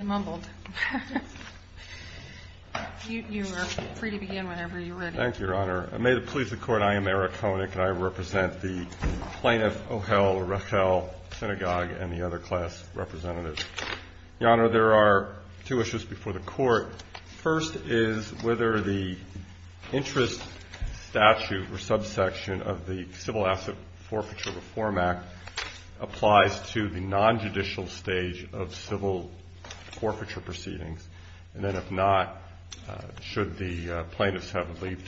I represent the plaintiff, O'Hell, Rahel, Synagogue, and the other class representatives. Your Honor, there are two issues before the Court. First is whether the interest statute or subsection of the Civil Asset Forfeiture Reform Act applies to the non-judicial stage of civil forfeiture proceedings. And then, if not, should the plaintiffs be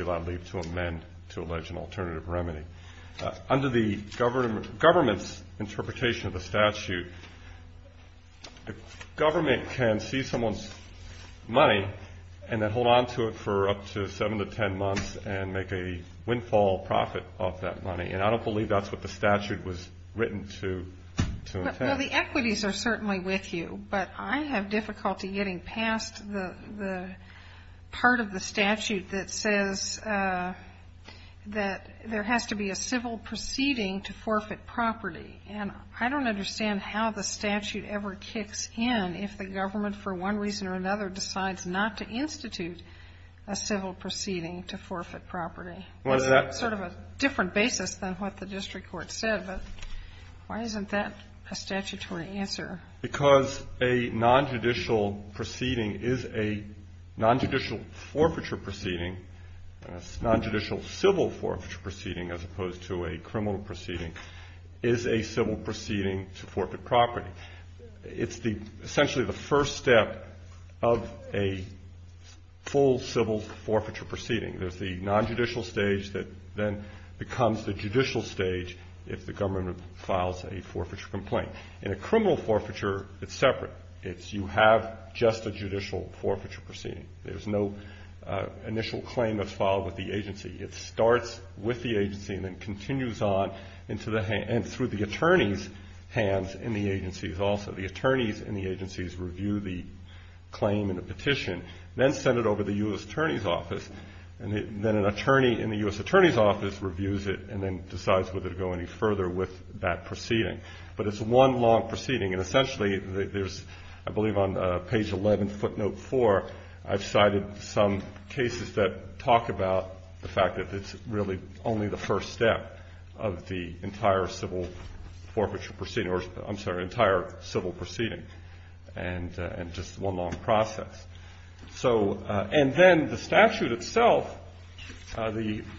allowed leave to amend to allege an alternative remedy. Under the government's interpretation of the statute, the government can seize someone's money and then hold on to it for up to seven to ten months and make a windfall profit off that money. And I don't believe that's what the statute was written to intend. Well, the equities are certainly with you. But I have difficulty getting past the part of the statute that says that there has to be a civil proceeding to forfeit property. And I don't understand how the statute ever kicks in if the government, for one reason or another, decides not to institute a civil proceeding to forfeit property. It's sort of a different basis than what the district court said, but why isn't that a statutory answer? Because a non-judicial proceeding is a non-judicial forfeiture proceeding, and a non-judicial civil forfeiture proceeding as opposed to a criminal proceeding is a civil proceeding to forfeit property. It's essentially the first step of a full civil forfeiture proceeding. There's the non-judicial stage that then becomes the judicial stage if the government files a forfeiture complaint. In a criminal forfeiture, it's separate. It's you have just a judicial forfeiture proceeding. There's no initial claim that's filed with the agency. It starts with the agency and then continues on into the hand and through the attorney's hands in the agencies also. The attorneys in the agencies review the claim and the petition, then send it over to the U.S. Attorney's Office, and then an attorney in the U.S. Attorney's Office reviews it and then decides whether to go any further with that proceeding. But it's one long proceeding, and essentially there's, I believe, on page 11, footnote 4, I've cited some cases that talk about the fact that it's really only the first step of the entire civil forfeiture proceeding, or I'm sorry, entire civil proceeding, and just one long process. So, and then the statute itself,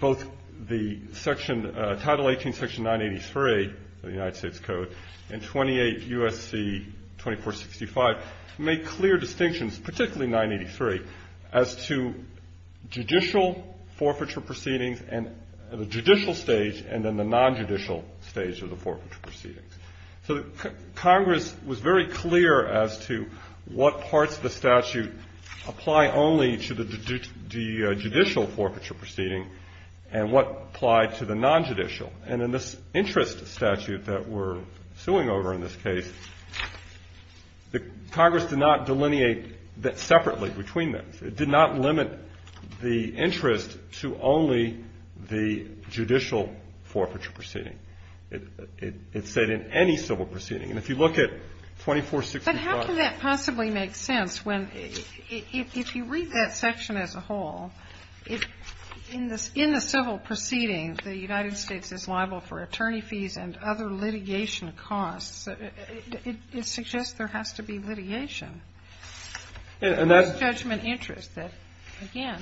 both the section, Title 18, Section 983 of the United States Code, and 28 U.S.C. 2465 make clear distinctions, particularly 983, as to judicial forfeiture proceedings and the judicial stage and then the non-judicial stage of the forfeiture proceedings. So Congress was very clear as to what parts of the statute apply only to the judicial forfeiture proceeding and what applied to the non-judicial. And in this interest statute that we're suing over in this case, Congress did not delineate that separately between them. It did not limit the interest to only the judicial forfeiture proceeding. It said in any civil proceeding. And if you look at 2465. Kagan. But how can that possibly make sense when, if you read that section as a whole, in the civil proceeding the United States is liable for attorney fees and other litigation costs, it suggests there has to be litigation. And that's judgment interest that, again,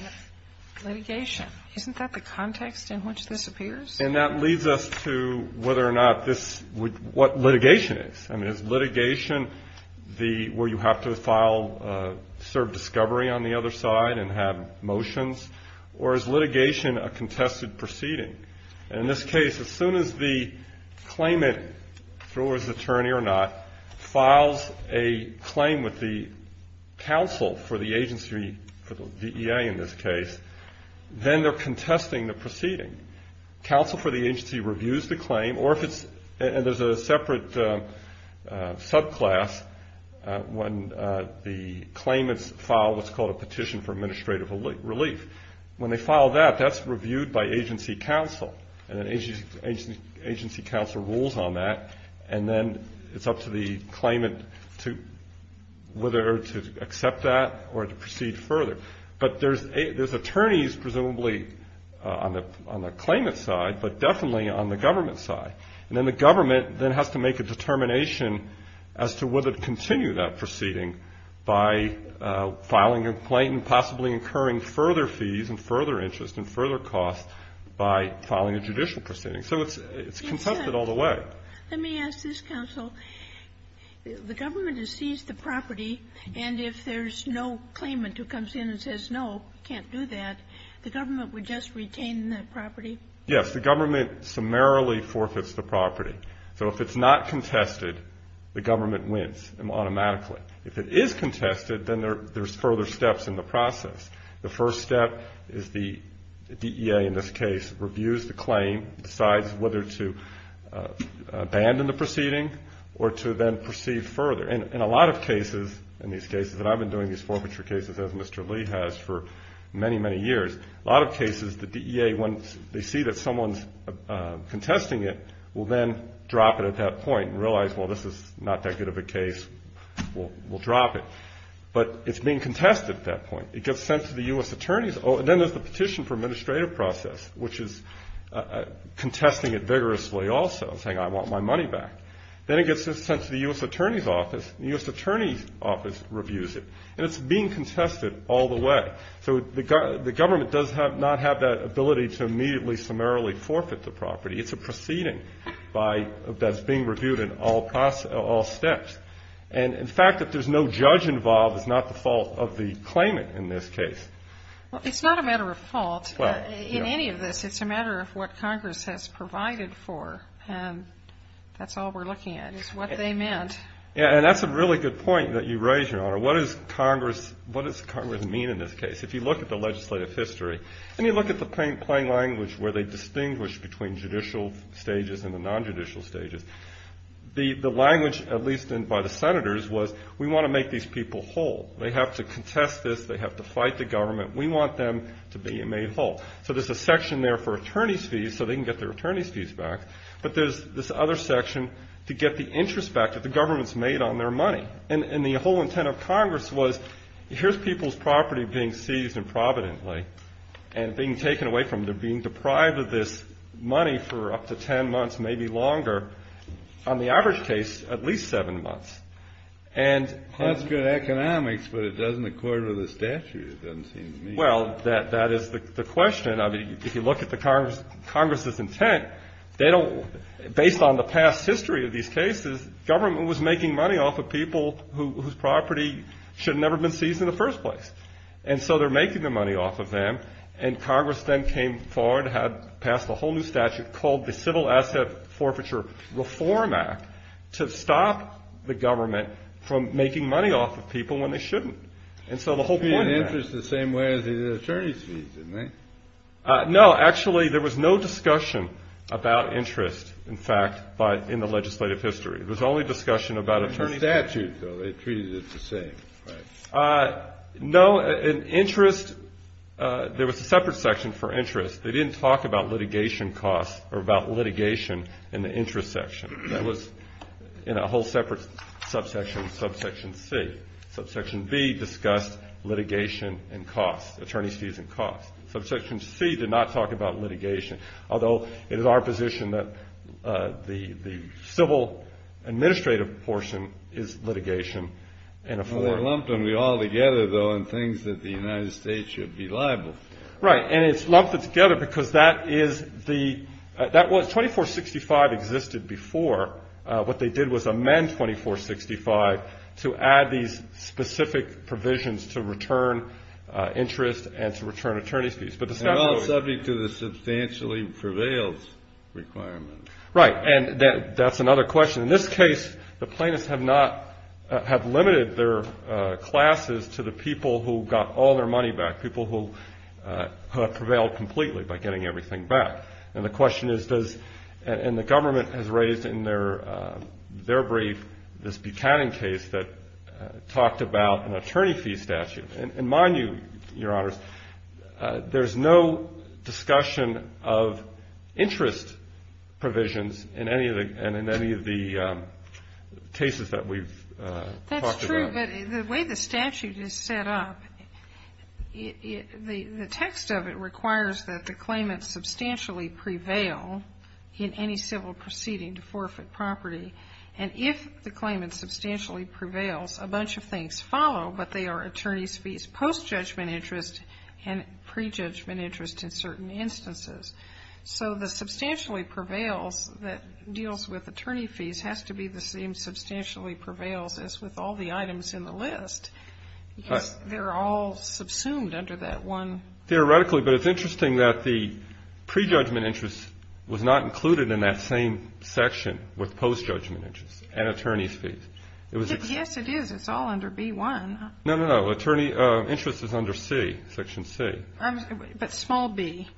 litigation. Isn't that the context in which this appears? And that leads us to whether or not this, what litigation is. I mean, is litigation where you have to file served discovery on the other side and have motions? Or is litigation a contested proceeding? And in this case, as soon as the claimant, through his attorney or not, files a claim with the counsel for the agency, for the DEA in this case, then they're contesting the proceeding. Counsel for the agency reviews the claim. Or if it's, and there's a separate subclass when the claimants file what's called a petition for administrative relief. When they file that, that's reviewed by agency counsel. And then agency counsel rules on that. And then it's up to the claimant to, whether to accept that or to proceed further. But there's attorneys presumably on the claimant's side, but definitely on the government's side. And then the government then has to make a determination as to whether to continue that proceeding by filing a complaint and possibly incurring further fees and further interest and further costs by filing a judicial proceeding. So it's contested all the way. Let me ask this, counsel. The government has seized the property. And if there's no claimant who comes in and says no, can't do that, the government would just retain that property? Yes. The government summarily forfeits the property. So if it's not contested, the government wins automatically. If it is contested, then there's further steps in the process. The first step is the DEA, in this case, reviews the claim, decides whether to abandon the proceeding or to then proceed further. And in a lot of cases, in these cases, and I've been doing these forfeiture cases as Mr. Lee has for many, many years, a lot of cases the DEA, once they see that someone's contesting it, will then drop it at that point and realize, well, this is not that good of a case, we'll drop it. But it's being contested at that point. It gets sent to the U.S. attorneys. Then there's the petition for administrative process, which is contesting it vigorously also, saying I want my money back. Then it gets sent to the U.S. attorney's office, and the U.S. attorney's office reviews it. And it's being contested all the way. So the government does not have that ability to immediately summarily forfeit the property. It's a proceeding that's being reviewed in all steps. And the fact that there's no judge involved is not the fault of the claimant in this case. Well, it's not a matter of fault in any of this. It's a matter of what Congress has provided for. And that's all we're looking at is what they meant. Yeah, and that's a really good point that you raise, Your Honor. What does Congress mean in this case? If you look at the legislative history and you look at the plain language where they distinguish between judicial stages and the nonjudicial stages, the language, at least by the senators, was we want to make these people whole. They have to contest this. They have to fight the government. We want them to be made whole. So there's a section there for attorney's fees so they can get their attorney's fees back. But there's this other section to get the interest back that the government's made on their money. And the whole intent of Congress was here's people's property being seized improvidently and being taken away from them, being deprived of this money for up to ten months, maybe longer. On the average case, at least seven months. That's good economics, but it doesn't accord with the statute, it doesn't seem to me. Well, that is the question. I mean, if you look at Congress's intent, based on the past history of these cases, government was making money off of people whose property should have never been seized in the first place. And so they're making the money off of them. And Congress then came forward, passed a whole new statute called the Civil Asset Forfeiture Reform Act to stop the government from making money off of people when they shouldn't. And so the whole point of that. They were getting interest the same way as they did attorney's fees, didn't they? No, actually, there was no discussion about interest, in fact, in the legislative history. There was only discussion about attorney's fees. In the statute, though, they treated it the same, right? No, in interest, there was a separate section for interest. They didn't talk about litigation costs or about litigation in the interest section. That was in a whole separate subsection, subsection C. Subsection B discussed litigation and costs, attorney's fees and costs. Subsection C did not talk about litigation, although it is our position that the civil administrative portion is litigation. Well, they lumped them all together, though, in things that the United States should be liable for. Right, and it's lumped together because that is the – 2465 existed before. What they did was amend 2465 to add these specific provisions to return interest and to return attorney's fees. But the statute – Well, it's subject to the substantially prevails requirement. Right, and that's another question. In this case, the plaintiffs have not – have limited their classes to the people who got all their money back, people who have prevailed completely by getting everything back. And the question is, does – and the government has raised in their brief this Buchanan case that talked about an attorney fee statute. And mind you, Your Honors, there's no discussion of interest provisions in any of the cases that we've talked about. But the way the statute is set up, the text of it requires that the claimant substantially prevail in any civil proceeding to forfeit property. And if the claimant substantially prevails, a bunch of things follow, but they are attorney's fees post-judgment interest and pre-judgment interest in certain instances. So the substantially prevails that deals with attorney fees has to be the same substantially prevails as with all the items in the list, because they're all subsumed under that one – Theoretically, but it's interesting that the pre-judgment interest was not included in that same section with post-judgment interest and attorney's fees. Yes, it is. It's all under B1. No, no, no. Attorney interest is under C, Section C. But small b,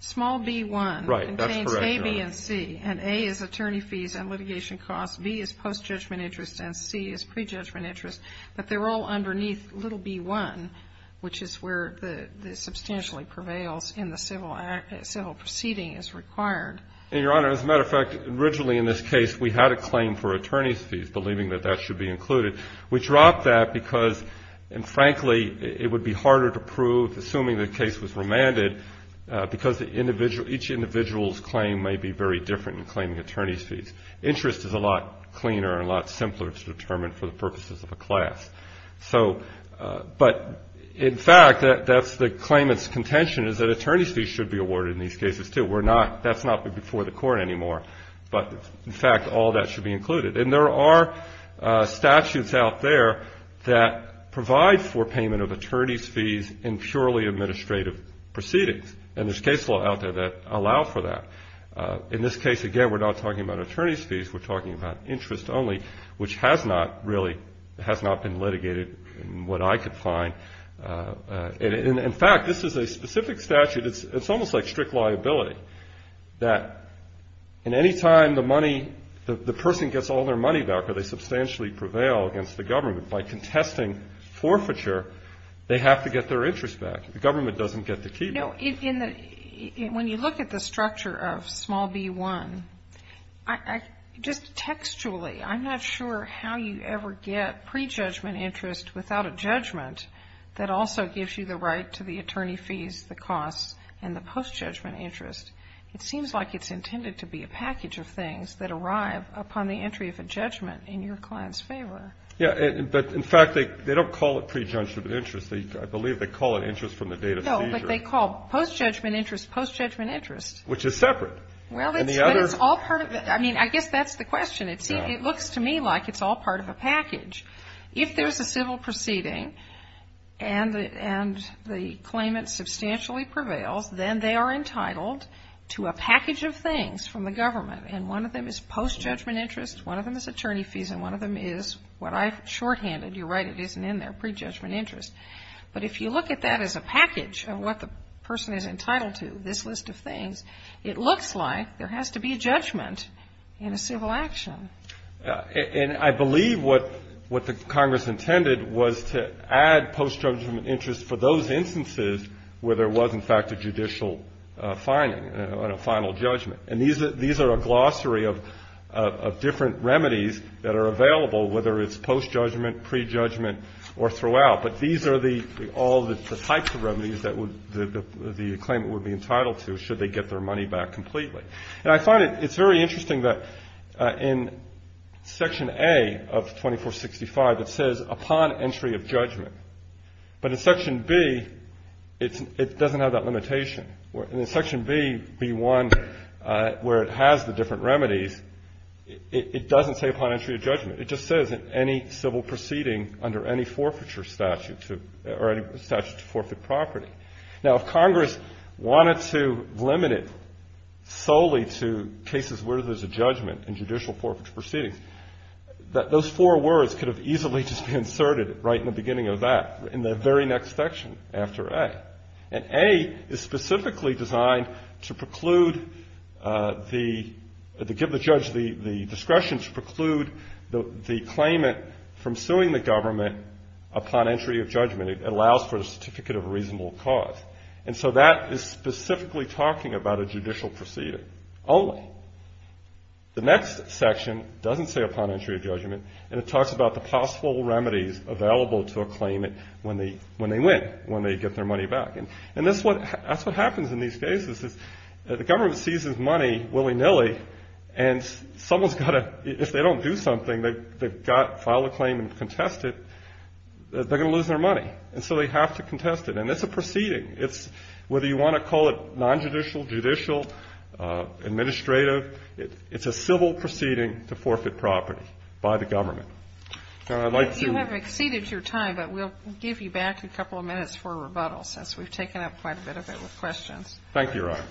small b1 contains a, b, and c, and a is attorney fees and litigation costs, b is post-judgment interest, and c is pre-judgment interest. But they're all underneath little b1, which is where the substantially prevails in the civil proceeding as required. And, Your Honor, as a matter of fact, originally in this case we had a claim for attorney's fees, believing that that should be included. We dropped that because, frankly, it would be harder to prove, assuming the case was remanded, because each individual's claim may be very different in claiming attorney's fees. Interest is a lot cleaner and a lot simpler to determine for the purposes of a class. But, in fact, that's the claimant's contention is that attorney's fees should be awarded in these cases, too. That's not before the court anymore. But, in fact, all that should be included. And there are statutes out there that provide for payment of attorney's fees in purely administrative proceedings. And there's case law out there that allow for that. In this case, again, we're not talking about attorney's fees. We're talking about interest only, which has not really, has not been litigated in what I could find. In fact, this is a specific statute. It's almost like strict liability, that in any time the money, the person gets all their money back or they substantially prevail against the government. By contesting forfeiture, they have to get their interest back. The government doesn't get to keep it. No, when you look at the structure of small B-1, just textually, I'm not sure how you ever get prejudgment interest without a judgment that also gives you the right to the attorney fees, the costs, and the post-judgment interest. It seems like it's intended to be a package of things that arrive upon the entry of a judgment in your client's favor. Yeah. But, in fact, they don't call it prejudgment interest. I believe they call it interest from the date of seizure. No, but they call post-judgment interest post-judgment interest. Which is separate. Well, it's all part of the, I mean, I guess that's the question. It looks to me like it's all part of a package. If there's a civil proceeding and the claimant substantially prevails, then they are entitled to a package of things from the government. And one of them is post-judgment interest, one of them is attorney fees, and one of them is what I've shorthanded. You're right, it isn't in there, prejudgment interest. But if you look at that as a package of what the person is entitled to, this list of things, it looks like there has to be a judgment in a civil action. And I believe what the Congress intended was to add post-judgment interest for those instances where there was, in fact, a judicial finding, a final judgment. And these are a glossary of different remedies that are available, whether it's post-judgment, prejudgment, or throughout. But these are all the types of remedies that the claimant would be entitled to should they get their money back completely. And I find it's very interesting that in Section A of 2465, it says upon entry of judgment. But in Section B, it doesn't have that limitation. In Section B, B-1, where it has the different remedies, it doesn't say upon entry of judgment. It just says in any civil proceeding under any forfeiture statute to or any statute to forfeit property. Now, if Congress wanted to limit it solely to cases where there's a judgment in judicial forfeiture proceedings, those four words could have easily just been inserted right in the beginning of that, in the very next section after A. And A is specifically designed to preclude the – to give the judge the discretion to preclude the claimant from suing the government upon entry of judgment. It allows for a certificate of reasonable cause. And so that is specifically talking about a judicial proceeding only. The next section doesn't say upon entry of judgment, and it talks about the possible remedies available to a claimant when they win, when they get their money back. And that's what happens in these cases is the government seizes money willy-nilly, and someone's got to – if they don't do something, they've got to file a claim and contest it, they're going to lose their money. And so they have to contest it. And it's a proceeding. It's – whether you want to call it nonjudicial, judicial, administrative, it's a civil proceeding to forfeit property by the government. And I'd like to – You have exceeded your time, but we'll give you back a couple of minutes for rebuttal, since we've taken up quite a bit of it with questions. Thank you, Your Honor.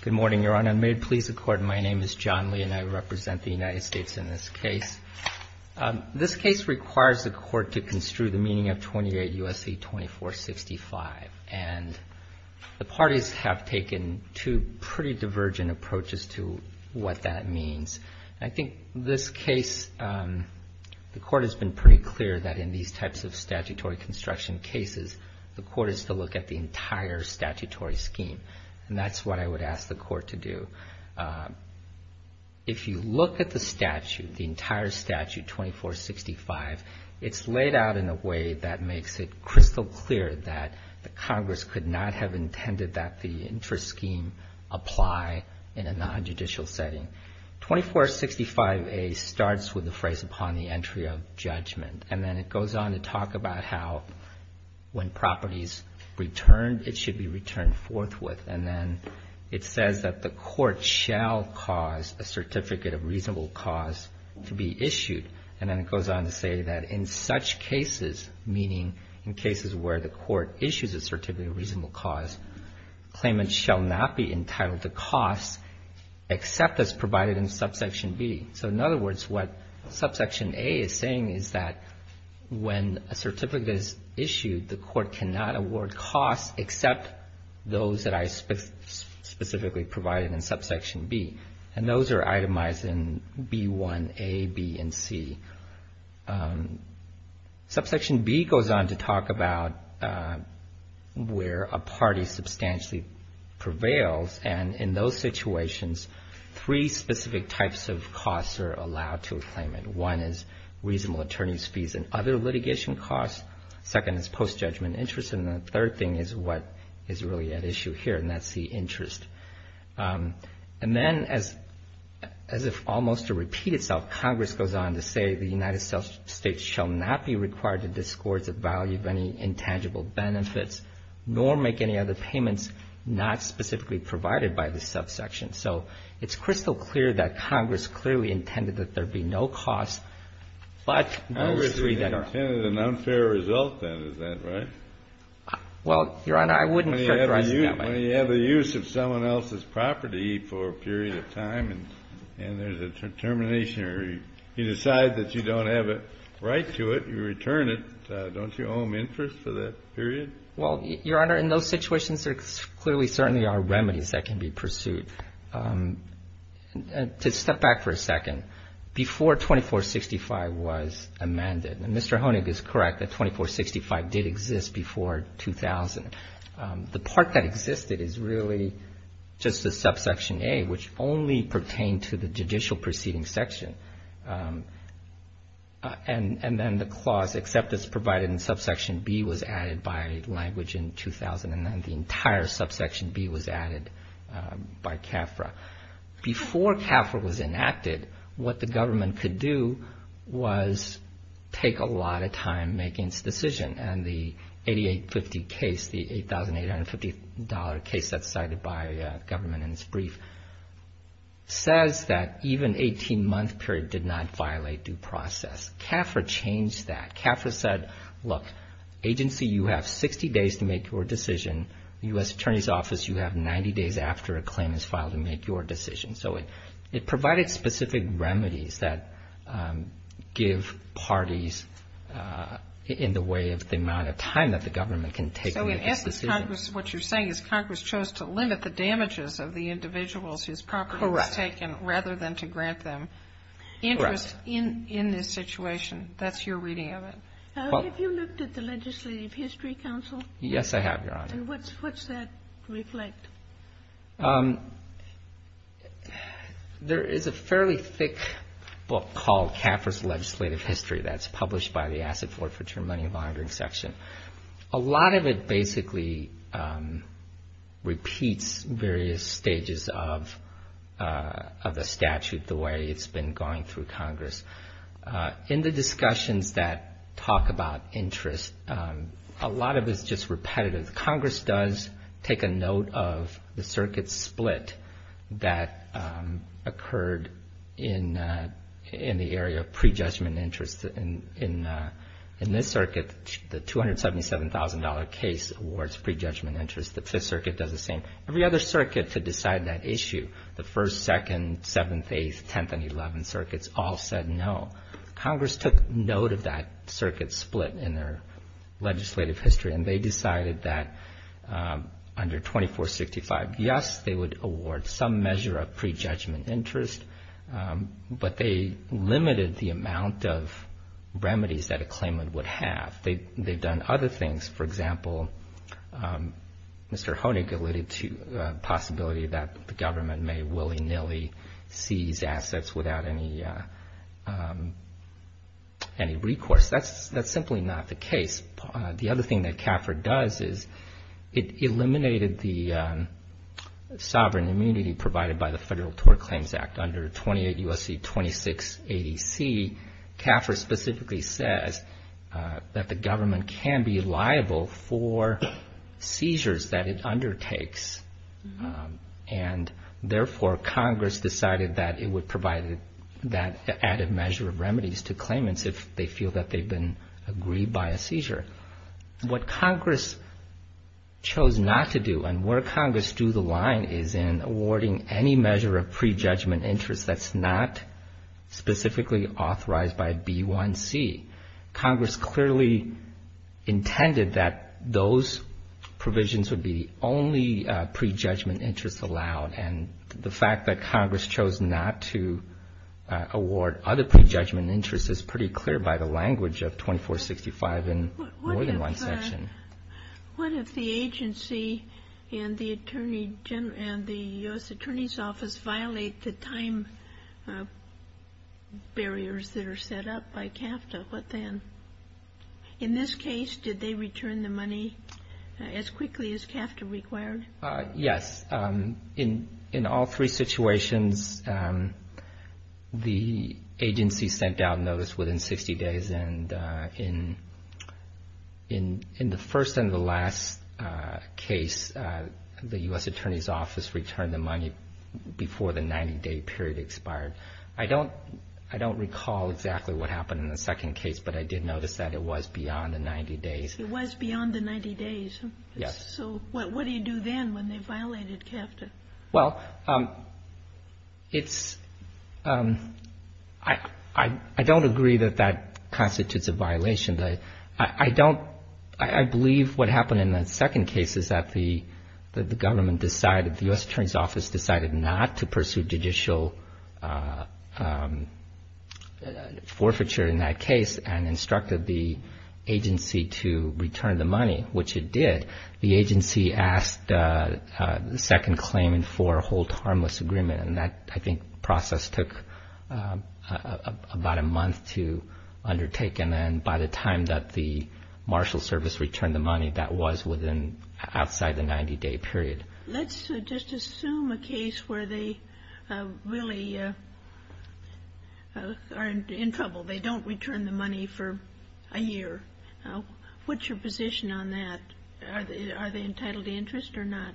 Good morning, Your Honor. May it please the Court, my name is John Lee, and I represent the United States in this case. This case requires the Court to construe the meaning of 28 U.S.C. 2465. And the parties have taken two pretty divergent approaches to what that means. I think this case, the Court has been pretty clear about the meaning of the meaning of 2465. And it's pretty clear that in these types of statutory construction cases, the Court is to look at the entire statutory scheme. And that's what I would ask the Court to do. If you look at the statute, the entire statute, 2465, it's laid out in a way that makes it crystal clear that the Congress could not have intended that the interest scheme apply in a nonjudicial setting. 2465A starts with the phrase, upon the entry of judgment. And then it goes on to talk about how when properties returned, it should be returned forthwith. And then it says that the Court shall cause a certificate of reasonable cause to be issued. And then it goes on to say that in such cases, meaning in cases where the Court issues a certificate of reasonable cause, claimants shall not be entitled to costs except as provided in subsection B. So in other words, what subsection A is saying is that when a certificate is issued, the Court cannot award costs except those that are specifically provided in subsection B. And those are itemized in B1A, B, and C. Subsection B goes on to talk about where a party substantially prevails. And in those situations, three specific types of costs are allowed to a claimant. One is reasonable attorney's fees and other litigation costs. Second is post-judgment interest. And the third thing is what is really at issue here, and that's the interest. And then as if almost to repeat itself, Congress goes on to say, the United States shall not be required to discord the value of any intangible benefits nor make any other payments not specifically provided by the subsection. So it's crystal clear that Congress clearly intended that there be no costs but those three that are. Kennedy, an unfair result then, is that right? Well, Your Honor, I wouldn't characterize it that way. When you have the use of someone else's property for a period of time and there's a termination or you decide that you don't have a right to it, you return it, don't you owe them interest for that period? Well, Your Honor, in those situations, there clearly certainly are remedies that can be pursued. To step back for a second, before 2465 was amended, and Mr. Honig is correct that 2465 did exist before 2000, the part that existed is really just the subsection A, which only pertained to the judicial proceeding section. And then the clause acceptance provided in subsection B was added by language in 2000, and then the entire subsection B was added by CAFRA. Before CAFRA was enacted, what the government could do was take a lot of time making its decision. And the 8850 case, the $8,850 case that's cited by government in its brief, says that even 18-month period did not violate due process. CAFRA changed that. CAFRA said, look, agency, you have 60 days to make your decision. The U.S. Attorney's Office, you have 90 days after a claim is filed to make your decision. So it provided specific remedies that give parties in the way of the amount of time that the government can take. So in essence, Congress, what you're saying is Congress chose to limit the damages of the individuals whose property was taken rather than to grant them interest in this situation. That's your reading of it. Have you looked at the Legislative History Council? Yes, I have, Your Honor. And what's that reflect? There is a fairly thick book called CAFRA's Legislative History that's published by the Asset Forfeiture Money Monitoring Section. A lot of it basically repeats various stages of the statute, the way it's been going through Congress. In the discussions that talk about interest, a lot of it is just repetitive. Congress does take a note of the circuit split that occurred in the area of prejudgment interest. In this circuit, the $277,000 case awards prejudgment interest. The Fifth Circuit does the same. Every other circuit to decide that issue, the First, Second, Seventh, Eighth, Tenth, and Eleventh Circuits all said no. Congress took note of that circuit split in their legislative history, and they decided that under 2465, yes, they would award some measure of prejudgment interest, but they limited the amount of remedies that a claimant would have. They've done other things. For example, Mr. Honig alluded to the possibility that the government may willy-nilly seize assets without any recourse. That's simply not the case. The other thing that CAFRA does is it eliminated the sovereign immunity provided by the Federal Tort Claims Act. Under 28 U.S.C. 2680C, CAFRA specifically says that the government can be liable for seizures that it undertakes, and therefore Congress decided that it would provide that added measure of remedies to claimants if they feel that they've been aggrieved by a seizure. What Congress chose not to do and where Congress drew the line is in awarding any measure of prejudgment interest that's not specifically authorized by B1C. Congress clearly intended that those provisions would be the only prejudgment interest allowed, and the fact that Congress chose not to award other prejudgment interest is pretty clear by the language of 2465 in more than one section. What if the agency and the U.S. Attorney's Office violate the time barriers that are set up by CAFTA? What then? In this case, did they return the money as quickly as CAFTA required? Yes. In all three situations, the agency sent out notice within 60 days, and in the first and the last case, the U.S. Attorney's Office returned the money before the 90-day period expired. I don't recall exactly what happened in the second case, but I did notice that it was beyond the 90 days. It was beyond the 90 days. Yes. So what do you do then when they violated CAFTA? Well, it's – I don't agree that that constitutes a violation. I don't – I believe what happened in the second case is that the government decided – the U.S. Attorney's Office decided not to pursue judicial forfeiture in that case and instructed the agency to return the money, which it did. The agency asked the second claimant for a hold harmless agreement, and that, I think, process took about a month to undertake. And then by the time that the marshal service returned the money, that was within – outside the 90-day period. Let's just assume a case where they really are in trouble. They don't return the money for a year. What's your position on that? Are they entitled to interest or not?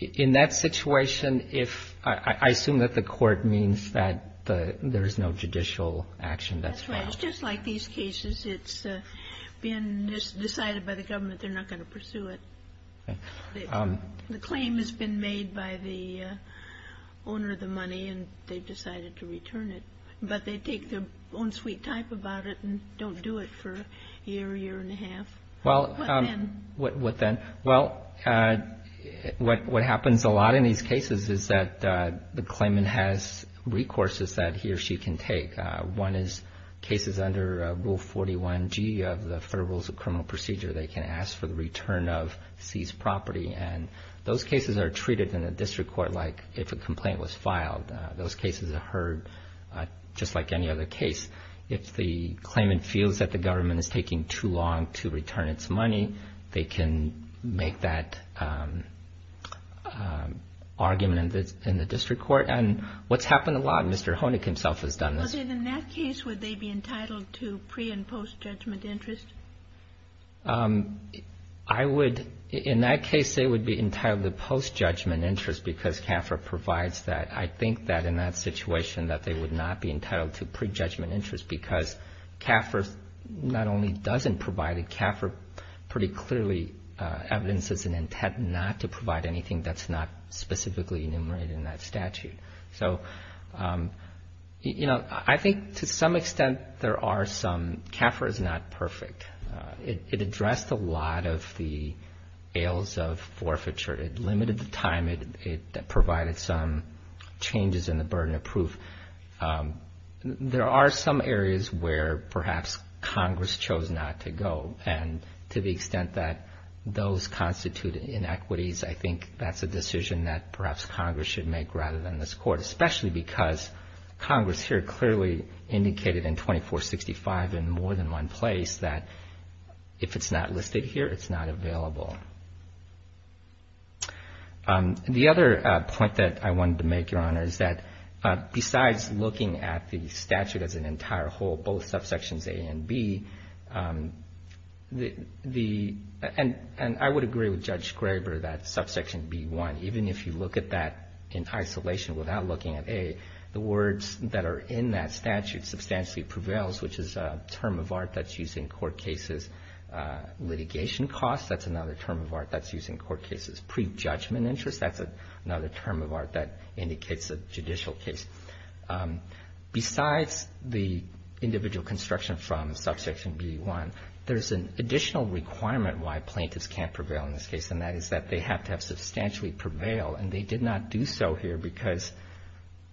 In that situation, if – I assume that the court means that there is no judicial action that's filed. That's right. It's just like these cases. It's been decided by the government they're not going to pursue it. The claim has been made by the owner of the money, and they've decided to return it, but they take their own sweet time about it and don't do it for a year, year and a half. What then? What then? Well, what happens a lot in these cases is that the claimant has recourses that he or she can take. One is cases under Rule 41G of the Federal Rules of Criminal Procedure. They can ask for the return of seized property, and those cases are treated in the district court like if a complaint was filed. Those cases are heard just like any other case. If the claimant feels that the government is taking too long to return its money, they can make that argument in the district court. And what's happened a lot, Mr. Honig himself has done this. In that case, would they be entitled to pre- and post-judgment interest? I would, in that case, they would be entitled to post-judgment interest because CAFRA provides that. I think that in that situation that they would not be entitled to pre-judgment interest because CAFRA not only doesn't provide it, CAFRA pretty clearly evidences an intent not to provide anything that's not specifically enumerated in that statute. So, you know, I think to some extent there are some CAFRA is not perfect. It addressed a lot of the ails of forfeiture. It limited the time. It provided some changes in the burden of proof. There are some areas where perhaps Congress chose not to go, and to the extent that those constitute inequities, I think that's a decision that perhaps Congress should make rather than this Court, especially because Congress here clearly indicated in 2465 in more than one place that if it's not listed here, it's not available. The other point that I wanted to make, Your Honor, is that besides looking at the statute as an entire whole, both subsections A and B, and I would agree with Judge Graber that subsection B-1, even if you look at that in isolation without looking at A, the words that are in that statute substantially prevails, which is a term of art that's used in court cases. Litigation costs, that's another term of art that's used in court cases. Pre-judgment interest, that's another term of art that indicates a judicial case. Besides the individual construction from subsection B-1, there's an additional requirement why plaintiffs can't prevail in this case, and that is that they have to have substantially prevailed. And they did not do so here because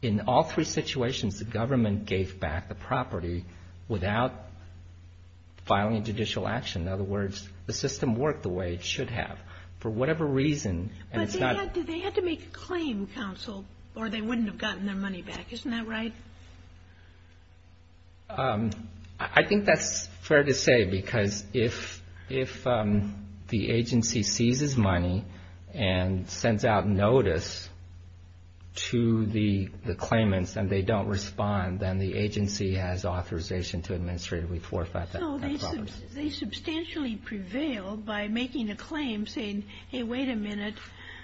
in all three situations, the government gave back the property without filing a judicial action. In other words, the system worked the way it should have. For whatever reason, and it's not – But they had to make a claim, counsel, or they wouldn't have gotten their money back. Isn't that right? I think that's fair to say because if the agency seizes money and sends out notice to the claimants and they don't respond, then the agency has authorization to administratively forfeit that property. No, they substantially prevailed by making a claim saying, Hey, wait a minute.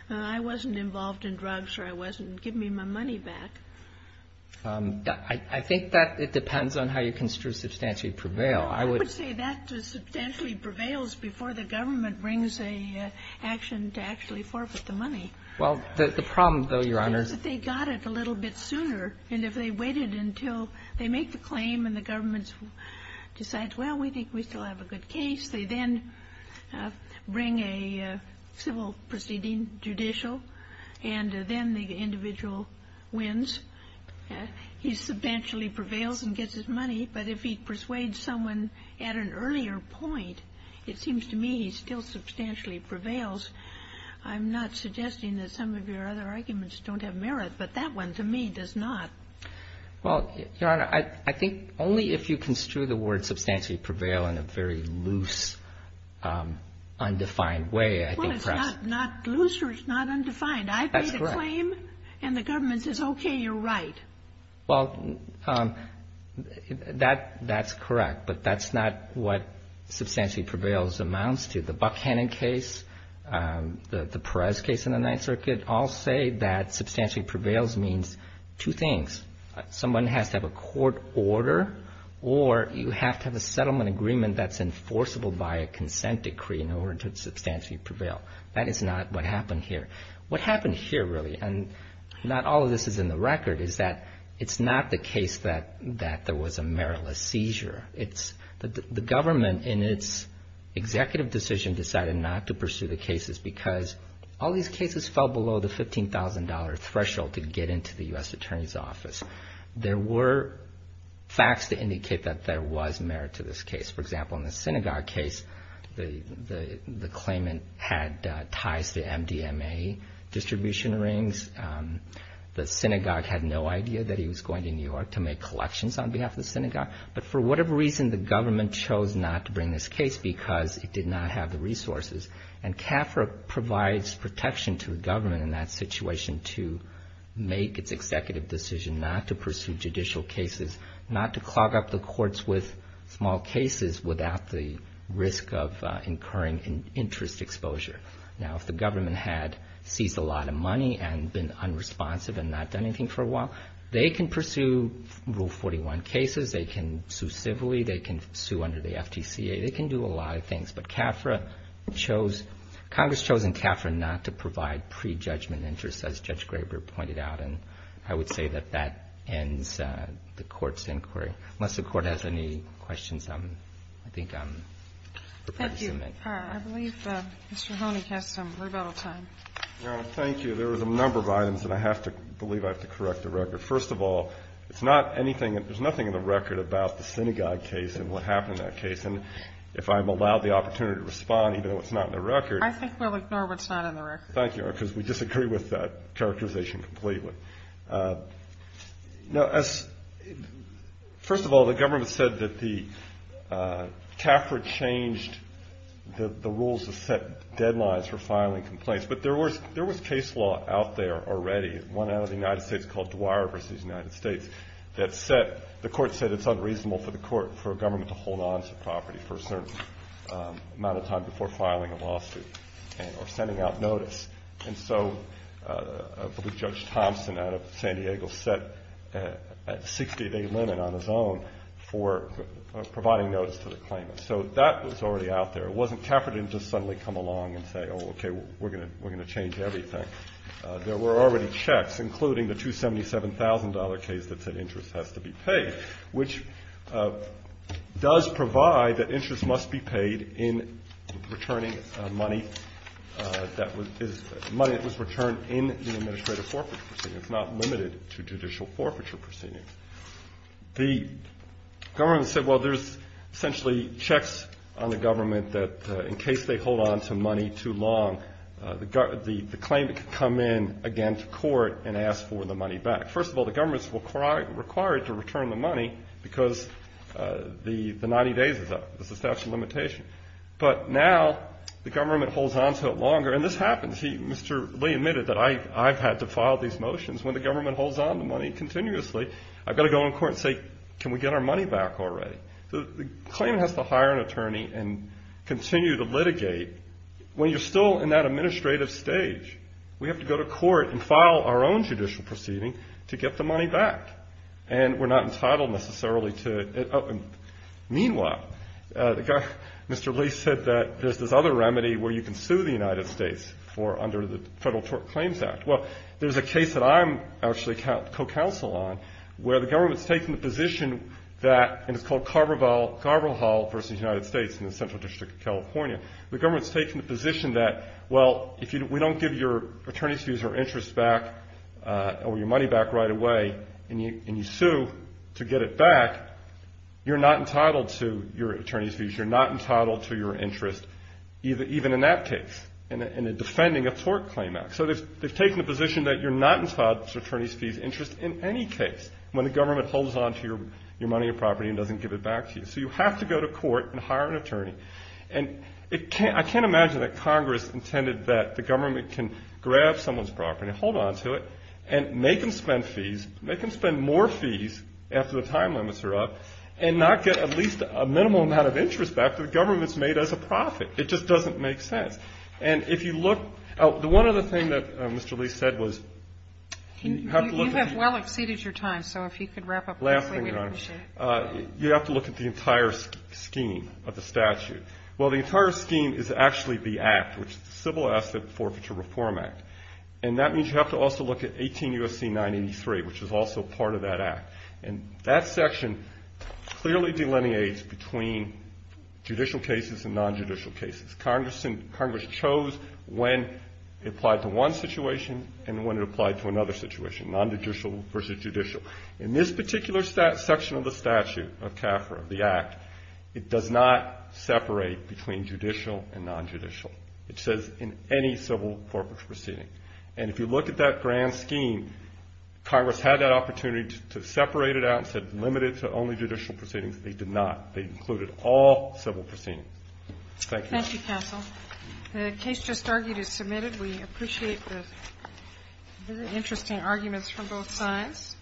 I wasn't involved in drugs or I wasn't – give me my money back. I think that it depends on how you construe substantially prevail. I would say that substantially prevails before the government brings an action to actually forfeit the money. Well, the problem, though, Your Honor, is that they got it a little bit sooner. And if they waited until they make the claim and the government decides, well, we think we still have a good case, they then bring a civil proceeding judicial, and then the individual wins. He substantially prevails and gets his money. But if he persuades someone at an earlier point, it seems to me he still substantially prevails. I'm not suggesting that some of your other arguments don't have merit, but that one to me does not. Well, Your Honor, I think only if you construe the word substantially prevail in a very loose, undefined way, I think perhaps – Well, it's not loose or it's not undefined. That's correct. I made a claim and the government says, Okay, you're right. Well, that's correct, but that's not what substantially prevails amounts to. The Buckhannon case, the Perez case in the Ninth Circuit all say that substantially prevails means two things. Someone has to have a court order or you have to have a settlement agreement that's enforceable by a consent decree in order to substantially prevail. That is not what happened here. What happened here really, and not all of this is in the record, is that it's not the case that there was a meritless seizure. The government in its executive decision decided not to pursue the cases because all these cases fell below the $15,000 threshold to get into the U.S. Attorney's Office. There were facts to indicate that there was merit to this case. For example, in the synagogue case, the claimant had ties to MDMA distribution rings. The synagogue had no idea that he was going to New York to make collections on behalf of the synagogue. But for whatever reason, the government chose not to bring this case because it did not have the resources. And CAFRA provides protection to the government in that situation to make its executive decision not to pursue judicial cases, not to clog up the courts with small cases without the risk of incurring interest exposure. Now, if the government had seized a lot of money and been unresponsive and not done anything for a while, they can pursue Rule 41 cases. They can sue civilly. They can sue under the FTCA. They can do a lot of things. But CAFRA chose – Congress chose in CAFRA not to provide prejudgment interests, as Judge Graber pointed out. And I would say that that ends the Court's inquiry. Unless the Court has any questions, I think I'm prepared to submit. Thank you. I believe Mr. Honig has some rebuttal time. Your Honor, thank you. There was a number of items that I have to – I believe I have to correct the record. First of all, it's not anything – there's nothing in the record about the synagogue case and what happened in that case. And if I'm allowed the opportunity to respond, even though it's not in the record – I think we'll ignore what's not in the record. Thank you, Your Honor, because we disagree with that characterization completely. Now, as – first of all, the government said that the – CAFRA changed the rules to set deadlines for filing complaints. But there was – there was case law out there already, one out of the United States called Dwyer v. United States, that set – the Court said it's reasonable for the Court – for a government to hold on to property for a certain amount of time before filing a lawsuit or sending out notice. And so I believe Judge Thompson out of San Diego set a 60-day limit on his own for providing notice to the claimant. So that was already out there. It wasn't – CAFRA didn't just suddenly come along and say, oh, okay, we're going to change everything. There were already checks, including the $277,000 case that said interest has to be paid, which does provide that interest must be paid in returning money that was – money that was returned in an administrative forfeiture proceeding. It's not limited to judicial forfeiture proceedings. The government said, well, there's essentially checks on the government that in case they hold on to money too long, the claimant can come in again to court and ask for the money back. First of all, the government is required to return the money because the 90 days is a statute of limitation. But now the government holds on to it longer. And this happens. Mr. Lee admitted that I've had to file these motions. When the government holds on to money continuously, I've got to go in court and say, can we get our money back already? The claimant has to hire an attorney and continue to litigate. to get the money back. And we're not entitled necessarily to it. Meanwhile, Mr. Lee said that there's this other remedy where you can sue the United States for – under the Federal Tort Claims Act. Well, there's a case that I'm actually co-counsel on where the government's taken the position that – and it's called Carver Hall v. United States in the Central District of California. The government's taken the position that, well, if we don't give your money back right away and you sue to get it back, you're not entitled to your attorney's fees. You're not entitled to your interest even in that case in defending a tort claim act. So they've taken the position that you're not entitled to attorney's fees interest in any case when the government holds on to your money or property and doesn't give it back to you. So you have to go to court and hire an attorney. And I can't imagine that Congress intended that the government can grab someone's property, hold on to it, and make them spend fees, make them spend more fees after the time limits are up and not get at least a minimal amount of interest back that the government's made as a profit. It just doesn't make sense. And if you look – the one other thing that Mr. Lee said was – You have well exceeded your time, so if you could wrap up quickly, we'd appreciate it. You have to look at the entire scheme of the statute. Well, the entire scheme is actually the act, which is the Civil Asset Forfeiture Reform Act. And that means you have to also look at 18 U.S.C. 983, which is also part of that act. And that section clearly delineates between judicial cases and non-judicial cases. Congress chose when it applied to one situation and when it applied to another situation, non-judicial versus judicial. In this particular section of the statute of CAFRA, the act, it does not separate between judicial and non-judicial. It says in any civil forfeiture proceeding. And if you look at that grand scheme, Congress had that opportunity to separate it out and said limit it to only judicial proceedings. They did not. They included all civil proceedings. Thank you. Thank you, counsel. The case just argued is submitted. We appreciate the very interesting arguments from both sides.